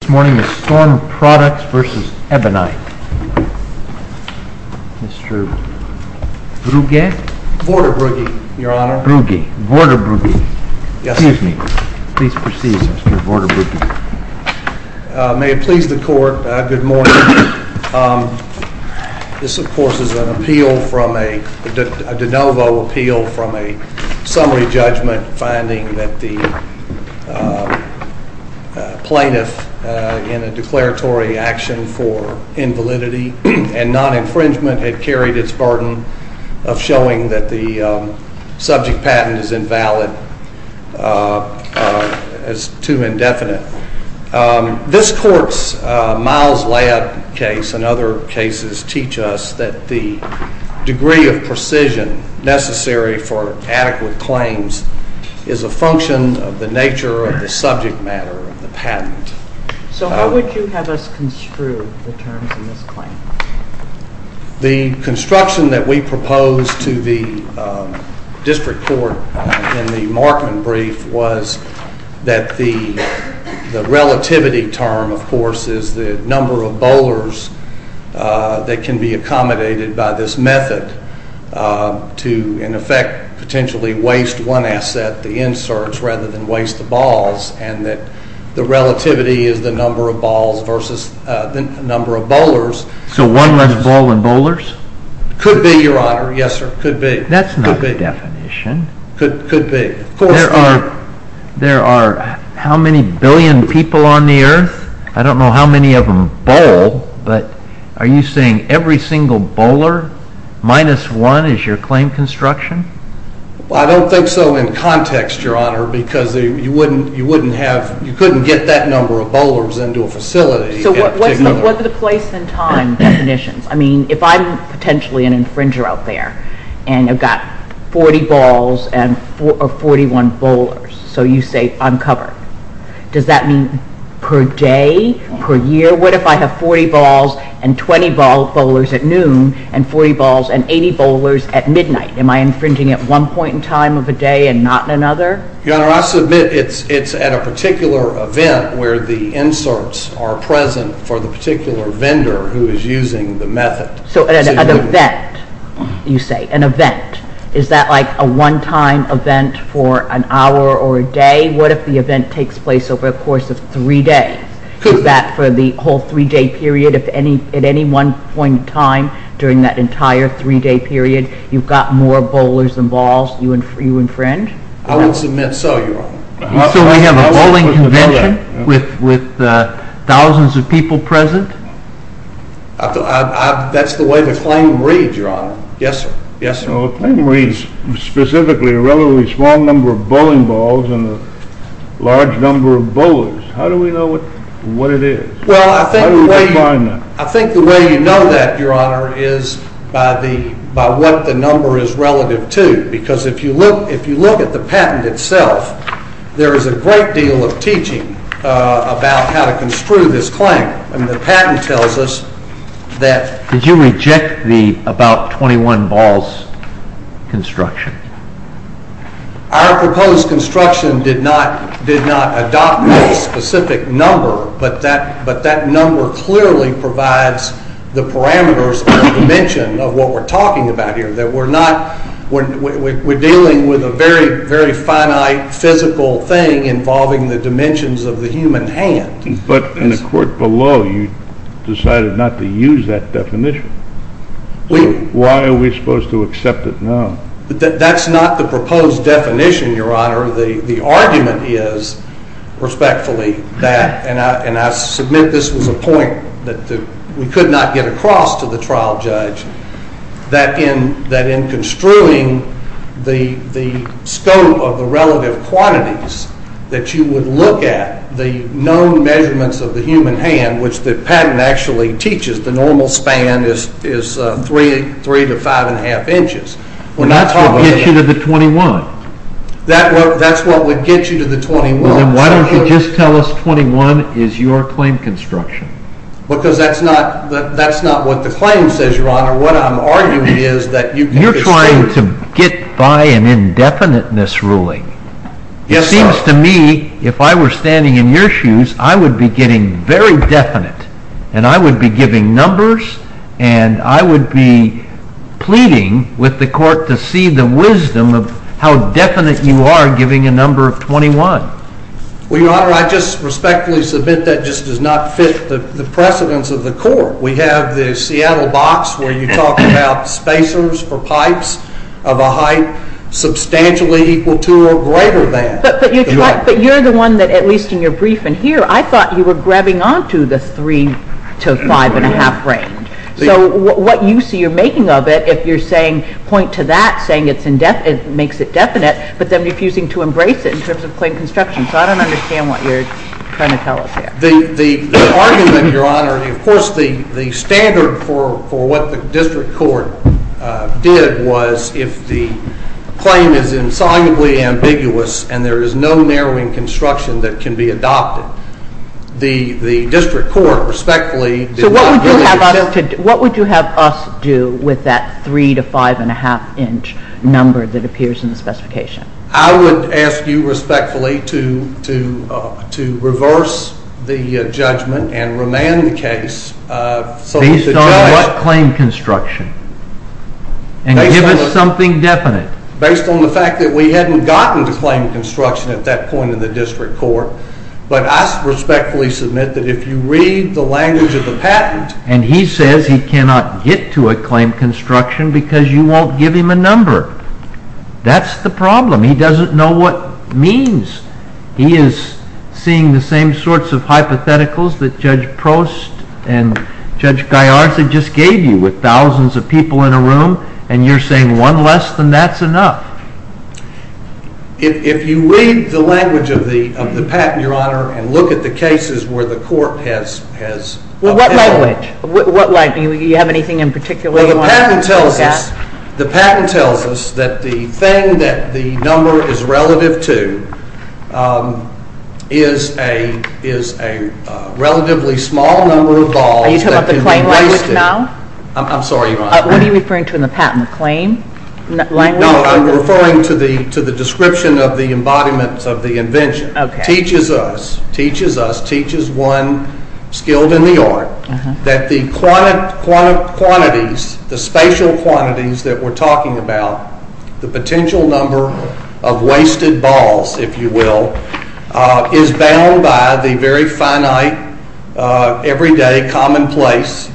This morning is Storm Products v. Ebonite. Mr. Brugge? Vorderbrugge, Your Honor. Brugge. Vorderbrugge. Yes. Excuse me. Please proceed, Mr. Vorderbrugge. May it please the Court, good morning. This, of course, is an appeal from a de novo appeal from a summary judgment finding that the in a declaratory action for invalidity and non-infringement had carried its burden of showing that the subject patent is invalid as too indefinite. This Court's Miles-Layup case and other cases teach us that the degree of precision necessary for adequate claims is a function of the nature of the subject matter of the patent. So how would you have us construe the terms in this claim? The construction that we proposed to the District Court in the Markman brief was that the relativity term, of course, is the number of bowlers that can be accommodated by this method to, in effect, potentially waste one asset, the inserts, rather than waste the balls, and that the relativity is the number of balls versus the number of bowlers. So one less ball in bowlers? Could be, Your Honor. Yes, sir, could be. That's not a definition. Could be. There are how many billion people on the earth? I don't know how many of them bowl, but are you saying every single bowler minus one is your claim construction? Well, I don't think so in context, Your Honor, because you wouldn't have, you couldn't get that number of bowlers into a facility. So what are the place and time definitions? I mean, if I'm potentially an infringer out there, and I've got 40 balls and 41 bowlers, so you say I'm covered. Does that mean per day, per year? What if I have 40 balls and 20 bowlers at noon and 40 balls and 80 bowlers at midnight? Am I infringing at one point in time of a day and not another? Your Honor, I submit it's at a particular event where the inserts are present for the particular vendor who is using the method. So at an event, you say, an event, is that like a one-time event for an hour or a day? What if the event takes place over a course of three days? Is that for the whole three-day period of any, at any one point in time during that entire three-day period, you've got more bowlers than balls, you infringe? I would submit so, Your Honor. So we have a bowling convention with thousands of people present? That's the way the claim reads, Your Honor. Yes, sir. Yes, sir. Well, the claim reads specifically a relatively small number of bowling balls and a large number of bowlers. How do we know what it is? Well, I think the way you know that, Your Honor, is by what the number is relative to. Because if you look at the patent itself, there is a great deal of teaching about how to construe this claim. And the patent tells us that... Did you reject the about 21 balls construction? Our proposed construction did not adopt a specific number, but that number clearly provides the parameters and the dimension of what we're talking about here. That we're not, we're dealing with a very, very finite physical thing involving the dimensions of the human hand. But in the court below, you decided not to use that definition. Why are we supposed to accept it now? That's not the proposed definition, Your Honor. The argument is, respectfully, that, and I submit this was a point that we could not get across to the trial judge, that in construing the scope of the relative quantities that you would look at the known measurements of the human hand, which the patent actually teaches the normal span is 3 to 5 1⁄2 inches. That's what would get you to the 21. That's what would get you to the 21. Then why don't you just tell us 21 is your claim construction? Because that's not what the claim says, Your Honor. What I'm arguing is that you can construe... You're trying to get by an indefiniteness ruling. It seems to me, if I were standing in your shoes, I would be getting very definite. And I would be giving numbers, and I would be pleading with the court to see the wisdom of how definite you are giving a number of 21. Well, Your Honor, I just respectfully submit that just does not fit the precedence of the court. We have the Seattle box where you talk about spacers for pipes of a height substantially equal to or greater than. But you're the one that, at least in your briefing here, I thought you were grabbing onto the 3 to 5 1⁄2 range. So what you see you're making of it, if you're saying, point to that, saying it makes it definite, but then refusing to embrace it in terms of claim construction. So I don't understand what you're trying to tell us here. The argument, Your Honor, of course the standard for what the district court did was if the claim is insolubly ambiguous and there is no narrowing construction that can be adopted, the district court respectfully did not give it to the district court. So what would you have us do with that 3 to 5 1⁄2 inch number that appears in the specification? I would ask you respectfully to reverse the judgment and remand the case so that the judge can give us claim construction and give us something definite. Based on the fact that we hadn't gotten to claim construction at that point in the district court, but I respectfully submit that if you read the language of the patent... And he says he cannot get to a claim construction because you won't give him a number. That's the problem. He doesn't know what it means. He is seeing the same sorts of hypotheticals that Judge Prost and Judge Gallarza just gave you with thousands of people in a room, and you're saying one less than that's enough. If you read the language of the patent, Your Honor, and look at the cases where the court has... What language? Do you have anything in particular you want to look at? The patent tells us that the thing that the number is relative to is a relatively small number of balls... Are you talking about the claim language now? I'm sorry, Your Honor. What are you referring to in the patent? The claim language? No, I'm referring to the description of the embodiment of the invention. It teaches us, teaches one skilled in the art, that the quantities, the spatial quantities that we're talking about, the potential number of wasted balls, if you will, is bound by the very finite, everyday, commonplace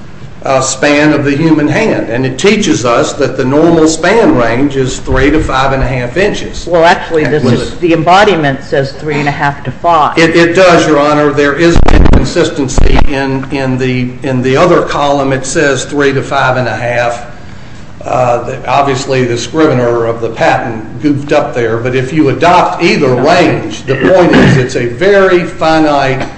span of the human hand. And it teaches us that the normal span range is three to five and a half inches. Well, actually, the embodiment says three and a half to five. It does, Your Honor. There is no consistency in the other column. It says three to five and a half. Obviously, the scrivener of the patent goofed up there, but if you adopt either range, the point is it's a very finite,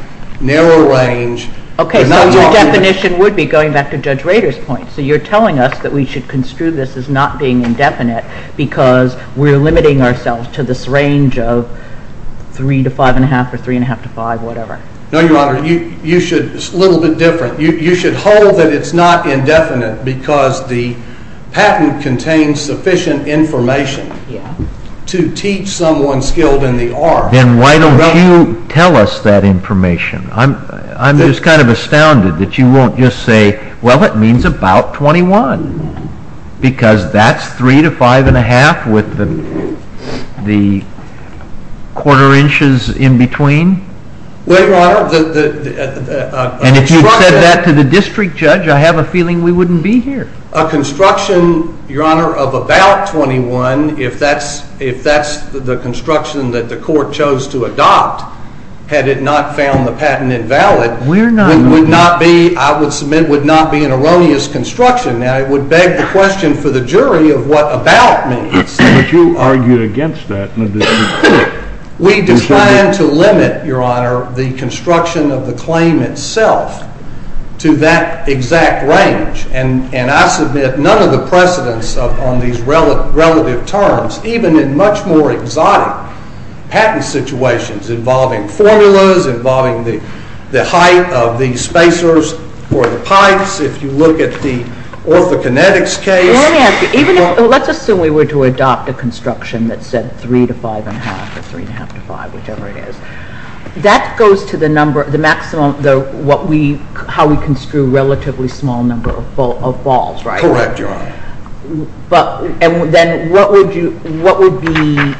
narrow range. Okay, so your definition would be, going back to Judge Rader's point, so you're telling us that we should construe this as not being indefinite because we're limiting ourselves to this range of three to five and a half or three and a half to five, whatever. No, Your Honor, you should, it's a little bit different, you should hold that it's not indefinite because the patent contains sufficient information to teach someone skilled in the art. Then why don't you tell us that information? I'm just kind of astounded that you won't just say, well, it means about 21, because that's three to five and a half with the quarter inches in between? Well, Your Honor, the construction... And if you'd said that to the district judge, I have a feeling we wouldn't be here. A construction, Your Honor, of about 21, if that's the construction that the court chose to adopt, had it not found the patent invalid... We're not... ...would not be, I would submit, would not be an erroneous construction. Now, it would beg the question for the jury of what about means. But you argued against that in the district court. We declined to limit, Your Honor, the construction of the claim itself to that exact range, and I submit none of the precedence on these relative terms, even in much more exotic patent situations involving formulas, involving the height of the spacers for the pipes, if you look at the orthokinetics case... Let's assume we were to adopt a construction that said three to five and a half, or three and a half to five, whichever it is. That goes to the number, the maximum, how we construe relatively small number of balls, right? Correct, Your Honor. But then what would be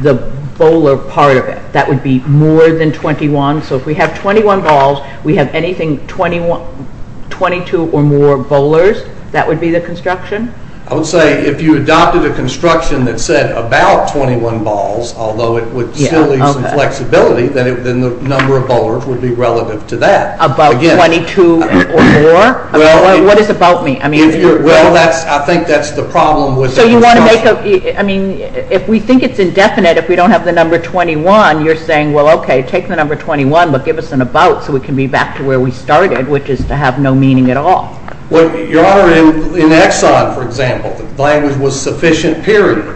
the bowler part of it that would be more than 21? So if we have 21 balls, we have anything 22 or more bowlers, that would be the construction? I would say if you adopted a construction that said about 21 balls, although it would still leave some flexibility, then the number of bowlers would be relative to that. About 22 or more? What is about me? Well, I think that's the problem with... So you want to make a... I mean, if we think it's indefinite, if we don't have the number 21, you're saying, well, okay, take the number 21, but give us an about so we can be back to where we started, which is to have no meaning at all. Well, Your Honor, in Exxon, for example, the language was sufficient period.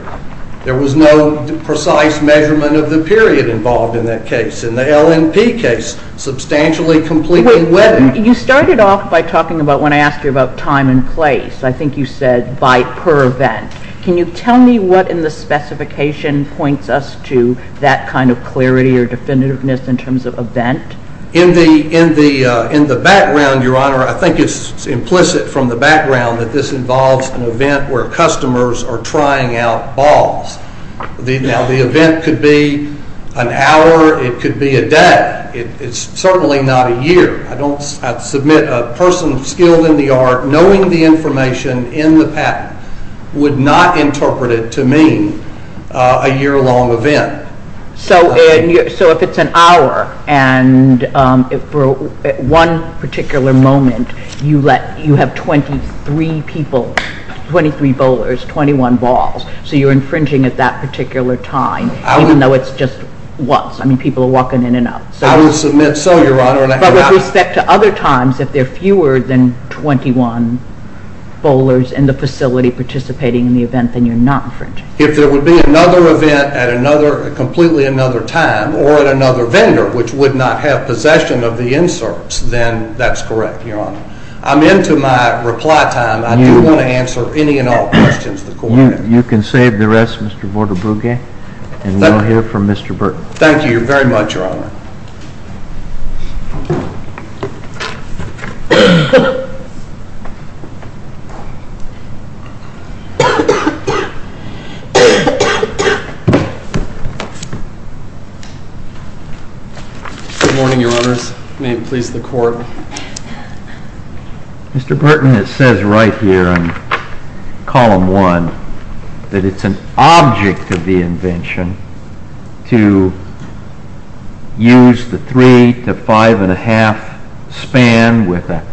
There was no precise measurement of the period involved in that case. In the LNP case, substantially completing weather... You started off by talking about, when I asked you about time and place, I think you said by per event. Can you tell me what in the specification points us to that kind of clarity or definitiveness in terms of event? In the background, Your Honor, I think it's implicit from the background that this involves an event where customers are trying out balls. Now, the event could be an hour. It could be a day. It's certainly not a year. I don't... I'd submit a person skilled in the art, knowing the information in the patent, would not interpret it to mean a year-long event. So if it's an hour, and for one particular moment, you have 23 people, 23 bowlers, 21 balls, so you're infringing at that particular time, even though it's just once. I mean, people are walking in and out. But with respect to other times, if there are fewer than 21 bowlers in the facility participating in the event, then you're not infringing. If there would be another event at another, completely another time, or at another vendor, which would not have possession of the inserts, then that's correct, Your Honor. I'm into my reply time. I do want to answer any and all questions the Court has. You can save the rest, Mr. Vorderbrugge, and we'll hear from Mr. Burton. Thank you very much, Your Honor. Good morning, Your Honors. May it please the Court. Mr. Burton, it says right here in Column 1 that it's an object of the invention to use the 3 to 5 1⁄2 span with an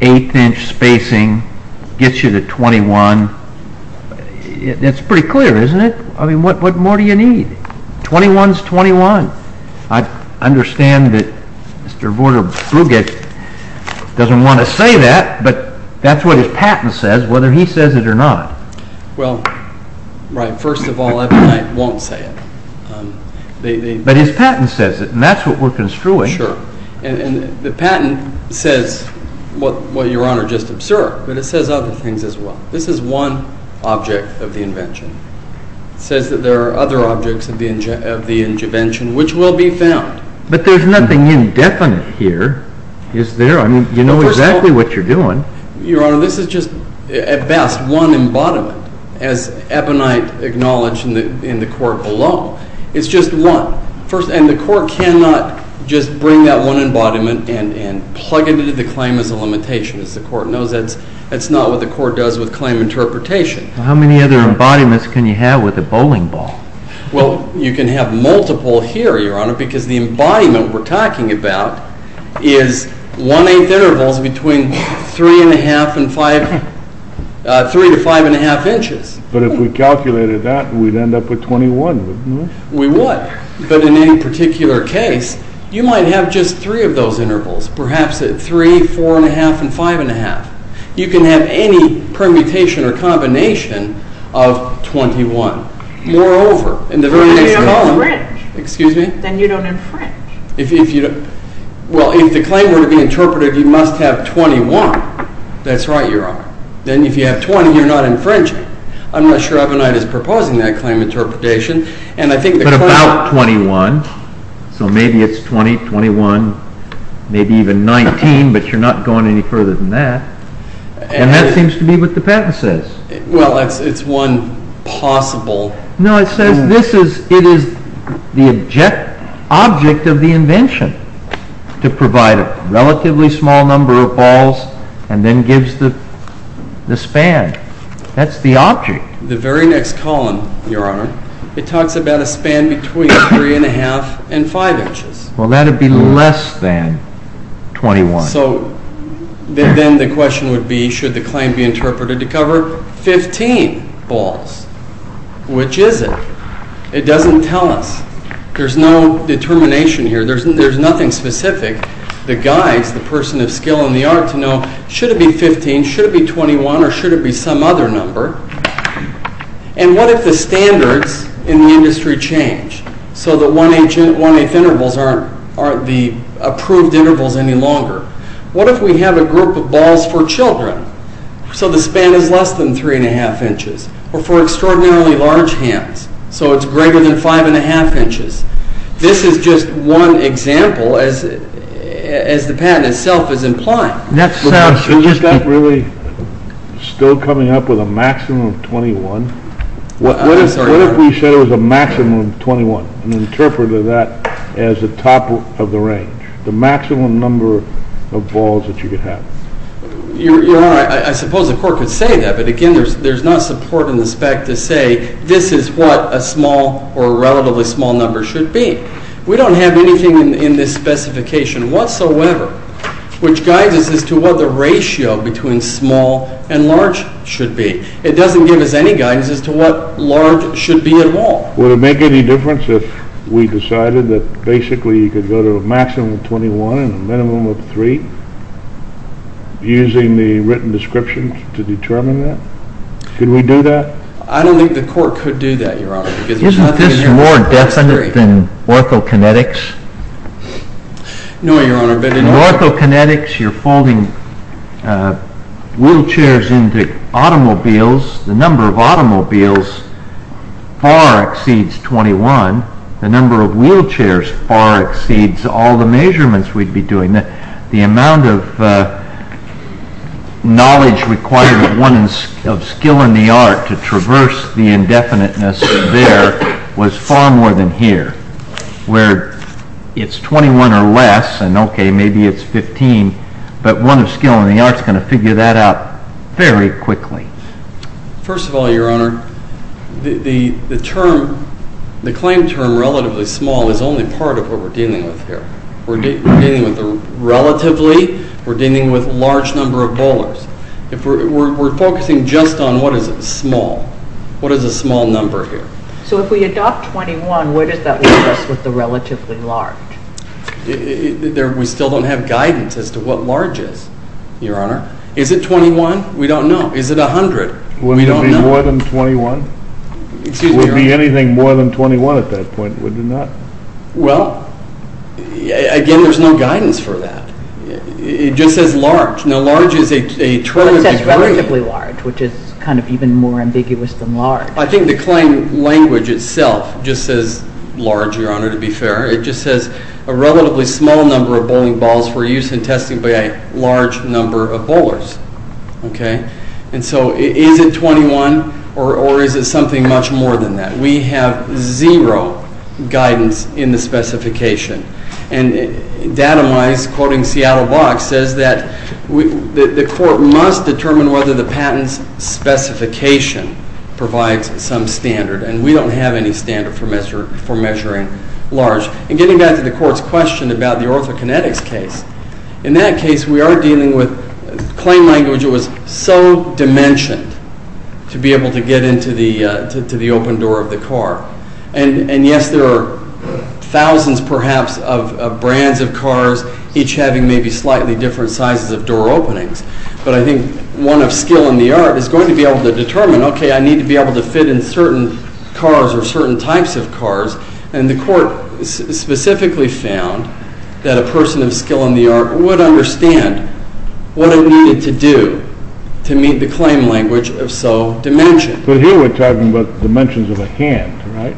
1⁄8 inch spacing, gets you to 21. That's pretty clear, isn't it? I mean, what more do you need? 21 is 21. I understand that Mr. Vorderbrugge doesn't want to say that, but that's what his patent says, whether he says it or not. Well, right. First of all, I won't say it. But his patent says it, and that's what we're construing. Sure. And the patent says what, Your Honor, just absurd, but it says other things as well. This is one object of the invention. It says that there are other objects of the invention which will be found. But there's nothing indefinite here, is there? I mean, you know exactly what you're doing. Your Honor, this is just, at best, one embodiment, as Ebonite acknowledged in the court below. It's just one. And the court cannot just bring that one embodiment and plug it into the claim as a limitation. As the court knows, that's not what the court does with claim interpretation. How many other embodiments can you have with a bowling ball? Well, you can have multiple here, Your Honor, because the embodiment we're talking about is one-eighth intervals between three and a half and five, three to five and a half inches. But if we calculated that, we'd end up with 21, wouldn't we? We would. But in any particular case, you might have just three of those intervals. You can have any permutation or combination of 21. Moreover, in the very next column, excuse me? Then you don't infringe. Well, if the claim were to be interpreted, you must have 21. That's right, Your Honor. Then if you have 20, you're not infringing. I'm not sure Ebonite is proposing that claim interpretation. But about 21, so maybe it's 20, 21, maybe even 19, but you're not going any further than that. And that seems to be what the patent says. Well, it's one possible. No, it says it is the object of the invention to provide a relatively small number of balls and then gives the span. That's the object. The very next column, Your Honor, it talks about a span between three and a half and five inches. Well, that'd be less than 21. So then the question would be, should the claim be interpreted to cover 15 balls? Which is it? It doesn't tell us. There's no determination here. There's nothing specific. The guy is the person of skill and the art to know, should it be 15, should it be 21, or should it be some other number? And what if the standards in the industry change? So the one-eighth intervals aren't the approved intervals any longer. What if we have a group of balls for children? So the span is less than three and a half inches, or for extraordinarily large hands, so it's greater than five and a half inches. This is just one example, as the patent itself is implying. Is that really still coming up with a maximum of 21? What if we said it was a maximum of 21 and interpreted that as the top of the range? The maximum number of balls that you could have? Your Honor, I suppose the Court could say that, but again, there's not support in the spec to say this is what a small or relatively small number should be. We don't have anything in this specification whatsoever which guides us as to what the ratio between small and large should be. It doesn't give us any guidance as to what large should be involved. Would it make any difference if we decided that basically you could go to a maximum of 21 and a minimum of 3, using the written description to determine that? Could we do that? I don't think the Court could do that, Your Honor. Isn't this more definite than orthokinetics? No, Your Honor. In orthokinetics, you're folding wheelchairs into automobiles. The number of automobiles far exceeds 21. The number of wheelchairs far exceeds all the measurements we'd be doing. The amount of knowledge required of one of skill in the art to traverse the indefiniteness there was far more than here, where it's 21 or less, and okay, maybe it's 15, but one of skill in the art is going to figure that out very quickly. First of all, Your Honor, the claim term relatively small is only part of what we're dealing with here. We're dealing with the relatively. We're dealing with large number of bowlers. We're focusing just on what is small. What is a small number here? So if we adopt 21, where does that leave us with the relatively large? We still don't have guidance as to what large is, Your Honor. Is it 21? We don't know. Is it 100? Would it be more than 21? Excuse me, Your Honor. Would it be anything more than 21 at that point? Would it not? Well, again, there's no guidance for that. It just says large. Now, large is a 20 degree— Well, it says relatively large, which is kind of even more ambiguous than large. I think the claim language itself just says large, Your Honor, to be fair. It just says a relatively small number of bowling balls for use in testing by a large number of bowlers, okay? And so is it 21 or is it something much more than that? We have zero guidance in the specification. And Datomize, quoting Seattle Box, says that the court must determine whether the patent's specification provides some standard. And we don't have any standard for measuring large. And getting back to the court's question about the orthokinetics case, in that case, we are dealing with claim language that was so dimensioned to be able to get into the open door of the car. And yes, there are thousands, perhaps, of brands of cars, each having maybe slightly different sizes of door openings. But I think one of skill in the art is going to be able to determine, okay, I need to be And the court specifically found that a person of skill in the art would understand what it needed to do to meet the claim language of so dimensioned. But here we're talking about dimensions of a hand, right?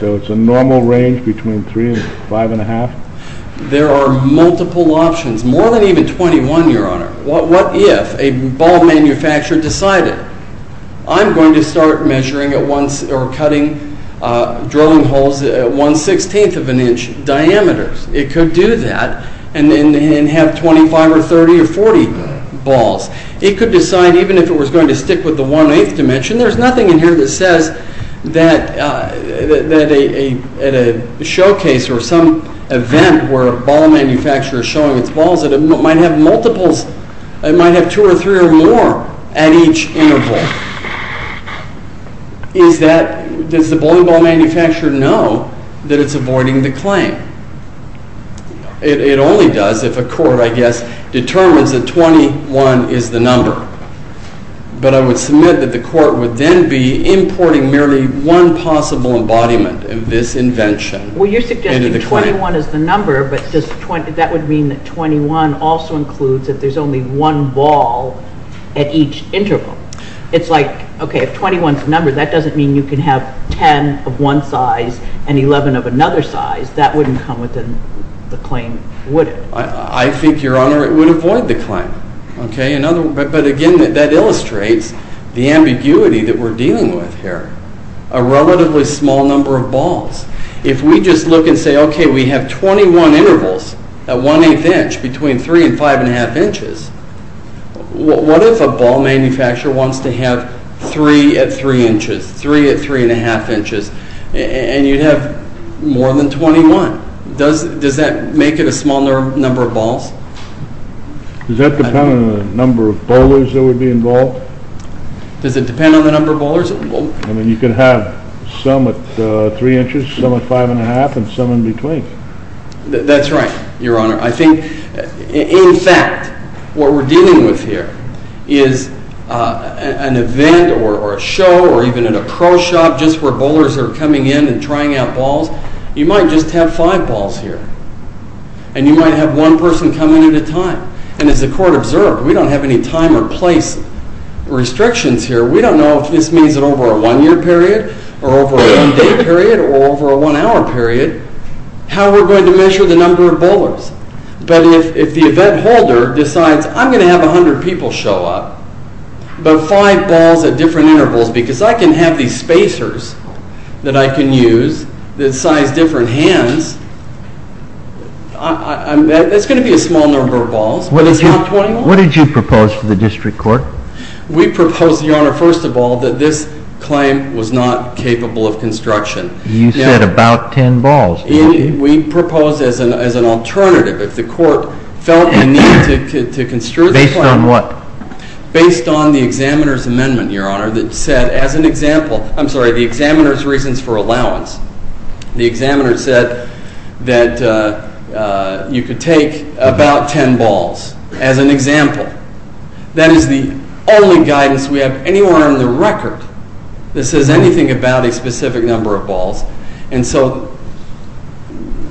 So it's a normal range between 3 and 5 and a half? There are multiple options, more than even 21, Your Honor. What if a ball manufacturer decided, I'm going to start measuring at once or cutting, drilling holes at 1 16th of an inch diameters. It could do that and have 25 or 30 or 40 balls. It could decide even if it was going to stick with the 1 8th dimension, there's nothing in here that says that at a showcase or some event where a ball manufacturer is showing its balls that it might have multiples, it might have two or three or more at each interval. Is that, does the bowling ball manufacturer know that it's avoiding the claim? It only does if a court, I guess, determines that 21 is the number. But I would submit that the court would then be importing merely one possible embodiment of this invention. Well, you're suggesting 21 is the number, but that would mean that 21 also includes that there's only one ball at each interval. It's like, okay, if 21 is the number, that doesn't mean you can have 10 of one size and 11 of another size. That wouldn't come within the claim, would it? I think, Your Honor, it would avoid the claim. But again, that illustrates the ambiguity that we're dealing with here. A relatively small number of balls. If we just look and say, okay, we have 21 intervals at 1 8th inch between 3 and 5 1⁄2 inches, what if a ball manufacturer wants to have 3 at 3 inches, 3 at 3 1⁄2 inches, and you'd have more than 21? Does that make it a smaller number of balls? Does that depend on the number of bowlers that would be involved? Does it depend on the number of bowlers? I mean, you could have some at 3 inches, some at 5 1⁄2, and some in between. That's right, Your Honor. I think, in fact, what we're dealing with here is an event or a show or even at a pro shop just where bowlers are coming in and trying out balls. You might just have five balls here. And you might have one person come in at a time. And as the court observed, we don't have any time or place restrictions here. We don't know if this means over a one-year period or over a one-day period or over a one-hour period how we're going to measure the number of bowlers. But if the event holder decides, I'm going to have 100 people show up, but five balls at different intervals because I can have these spacers that I can use that size different hands, that's going to be a small number of balls, but it's not 21. What did you propose for the district court? We proposed, Your Honor, first of all, that this claim was not capable of construction. You said about 10 balls. We proposed as an alternative. If the court felt the need to construe the plan. Based on what? Based on the examiner's amendment, Your Honor, that said as an example. I'm sorry, the examiner's reasons for allowance. The examiner said that you could take about 10 balls as an example. That is the only guidance we have anywhere on the record that says anything about a specific number of balls. And so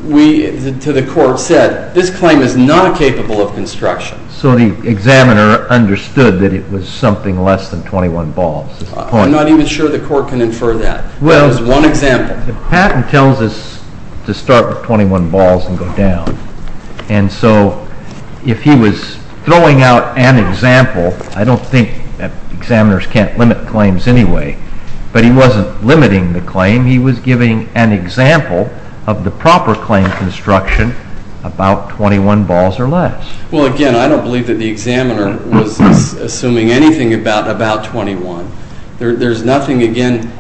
we, to the court, said this claim is not capable of construction. So the examiner understood that it was something less than 21 balls. I'm not even sure the court can infer that. Well, the patent tells us to start with 21 balls and go down. And so if he was throwing out an example, I don't think examiners can't limit claims anyway, but he wasn't limiting the claim. He was giving an example of the proper claim construction about 21 balls or less. Well, again, I don't believe that the examiner was assuming anything about 21. There's nothing, again,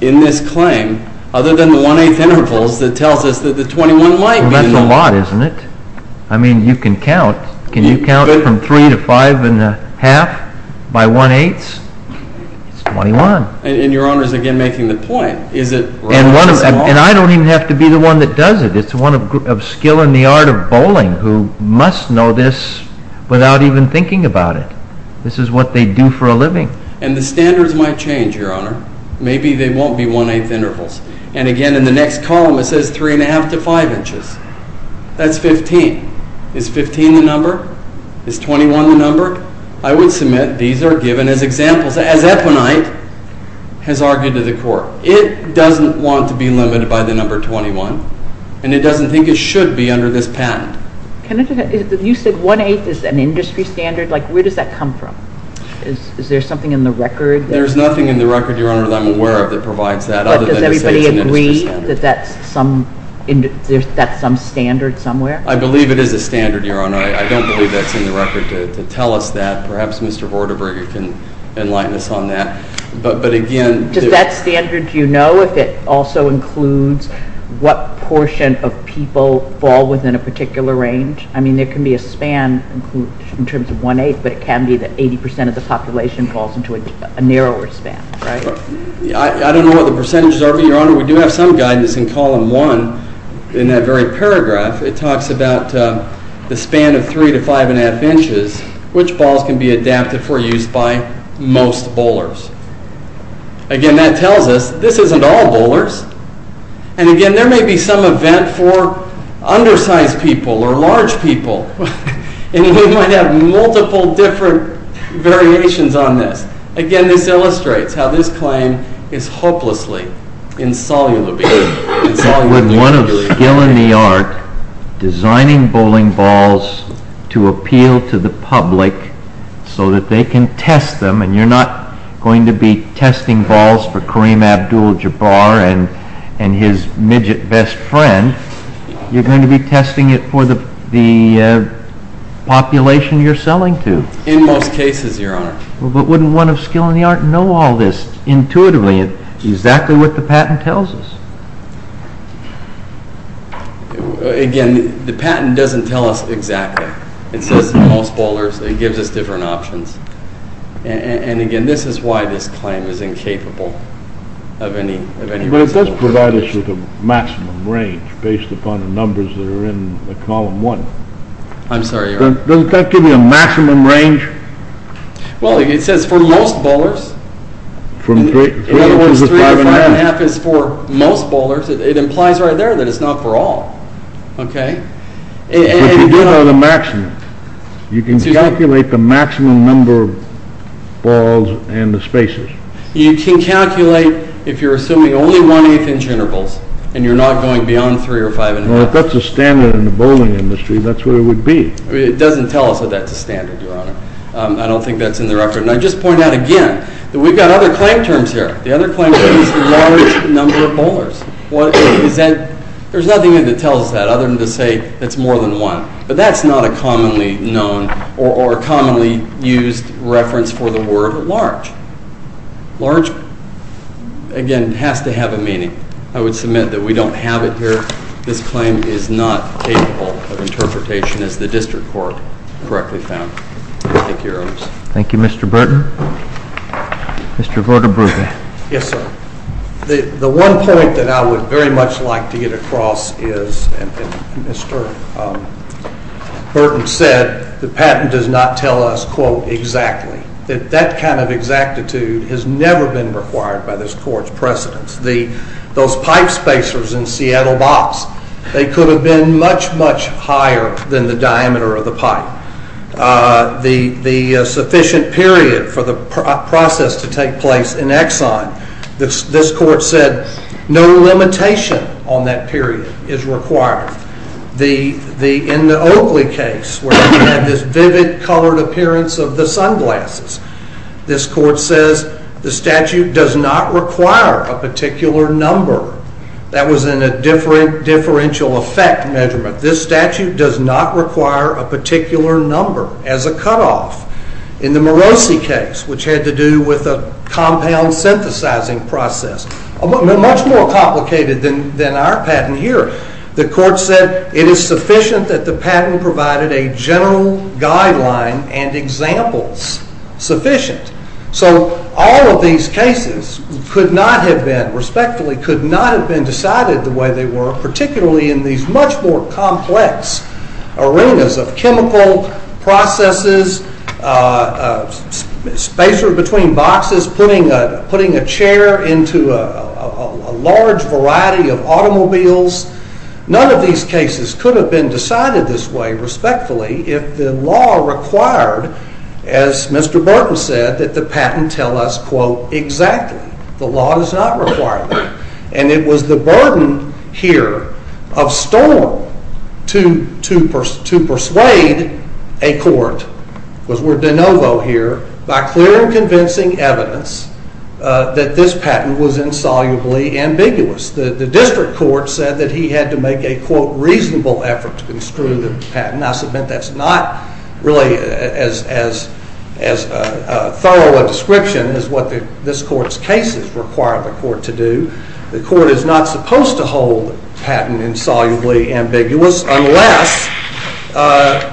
in this claim other than the one-eighth intervals that tells us that the 21 might be. That's a lot, isn't it? I mean, you can count. Can you count from three to five and a half by one-eighth? It's 21. And Your Honor is again making the point. And I don't even have to be the one that does it. It's one of skill in the art of bowling who must know this without even thinking about it. This is what they do for a living. And the standards might change, Your Honor. Maybe they won't be one-eighth intervals. And again, in the next column, it says three and a half to five inches. That's 15. Is 15 the number? Is 21 the number? I would submit these are given as examples, as Eponite has argued to the court. It doesn't want to be limited by the number 21. And it doesn't think it should be under this patent. Can I just add, you said one-eighth is an industry standard. Like, where does that come from? Is there something in the record? There's nothing in the record, Your Honor, that I'm aware of that provides that other than it says it's an industry standard. But does everybody agree that that's some standard somewhere? I believe it is a standard, Your Honor. I don't believe that's in the record to tell us that. Perhaps Mr. Vorderberg can enlighten us on that. But again... Does that standard, do you know if it also includes what portion of people fall within a particular range? I mean, there can be a span in terms of one-eighth, but it can be that 80% of the population falls into a narrower span, right? I don't know what the percentages are, but, Your Honor, we do have some guidance in column one in that very paragraph. It talks about the span of three to five and a half inches, which balls can be adapted for use by most bowlers. Again, that tells us this isn't all bowlers. And again, there may be some event for undersized people or large people, and we might have multiple different variations on this. Again, this illustrates how this claim is hopelessly insoluble. Insoluble. With one of skill in the art, designing bowling balls to appeal to the public so that they can test them, and you're not going to be testing balls for Kareem Abdul-Jabbar and his midget best friend. You're going to be testing it for the population you're selling to. In most cases, Your Honor. But wouldn't one of skill in the art know all this intuitively, exactly what the patent tells us? Again, the patent doesn't tell us exactly. It says most bowlers, it gives us different options. And again, this is why this claim is incapable of any results. But it does provide us with a maximum range based upon the numbers that are in the column one. I'm sorry, Your Honor. Doesn't that give you a maximum range? Well, it says for most bowlers. From three to five and a half. Three to five and a half is for most bowlers. It implies right there that it's not for all. Okay. But you do know the maximum. You can calculate the maximum number of balls and the spaces. You can calculate if you're assuming only one-eighth inch intervals and you're not going beyond three or five and a half. Well, if that's a standard in the bowling industry, that's what it would be. It doesn't tell us that that's a standard, Your Honor. I don't think that's in the record. And I just point out again that we've got other claim terms here. The other claim term is the large number of bowlers. There's nothing that tells us that other than to say it's more than one. But that's not a commonly known or commonly used reference for the word large. Large, again, has to have a meaning. I would submit that we don't have it here. This claim is not capable of interpretation as the district court correctly found. Thank you, Your Honors. Thank you, Mr. Burton. Mr. Vodabruga. Yes, sir. The one point that I would very much like to get across is, and Mr. Burton said, the patent does not tell us, quote, exactly. That that kind of exactitude has never been required by this court's precedence. Those pipe spacers in Seattle Box, they could have been much, much higher than the diameter of the pipe. The sufficient period for the process to take place in Exxon, this court said no limitation on that period is required. In the Oakley case, where we had this vivid colored appearance of the sunglasses, this court says the statute does not require a particular number. That was in a differential effect measurement. This statute does not require a particular number as a cutoff. In the Morosi case, which had to do with a compound synthesizing process, much more complicated than our patent here, the court said it is sufficient that the patent provided a general guideline and examples sufficient. So all of these cases could not have been, respectfully, could not have been decided the way they were, particularly in these much more complex arenas of chemical processes, spacer between boxes, putting a chair into a large variety of automobiles. None of these cases could have been decided this way, respectfully, if the law required, as Mr. Burton said, that the patent tell us, quote, exactly. The law does not require that. And it was the burden here of Storm to persuade a court, because we're de novo here, by clear and convincing evidence that this patent was insolubly ambiguous. The district court said that he had to make a, quote, reasonable effort to construe the patent. I submit that's not really as thorough a description as what this court's cases require the court to do. The court is not supposed to hold patent insolubly ambiguous unless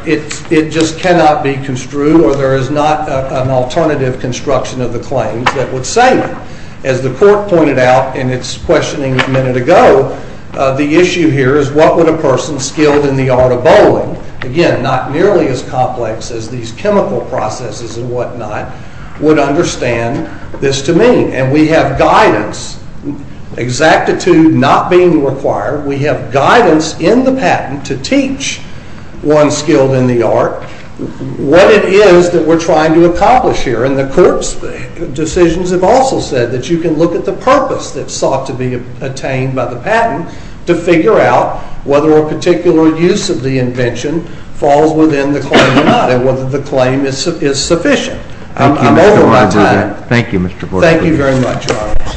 it just cannot be construed or there is not an alternative construction of the claims that would say that. As the court pointed out in its questioning a minute ago, the issue here is what would a person skilled in the art of bowling, again, not nearly as complex as these chemical processes and whatnot, would understand this to mean. And we have guidance, exactitude not being required. We have guidance in the patent to teach one skilled in the art what it is that we're trying to accomplish here. And the court's decisions have also said that you can look at the purpose that's sought to be attained by the patent to figure out whether a particular use of the invention falls within the claim or not and whether the claim is sufficient. I'm over my time. Thank you, Mr. Bork. Thank you very much.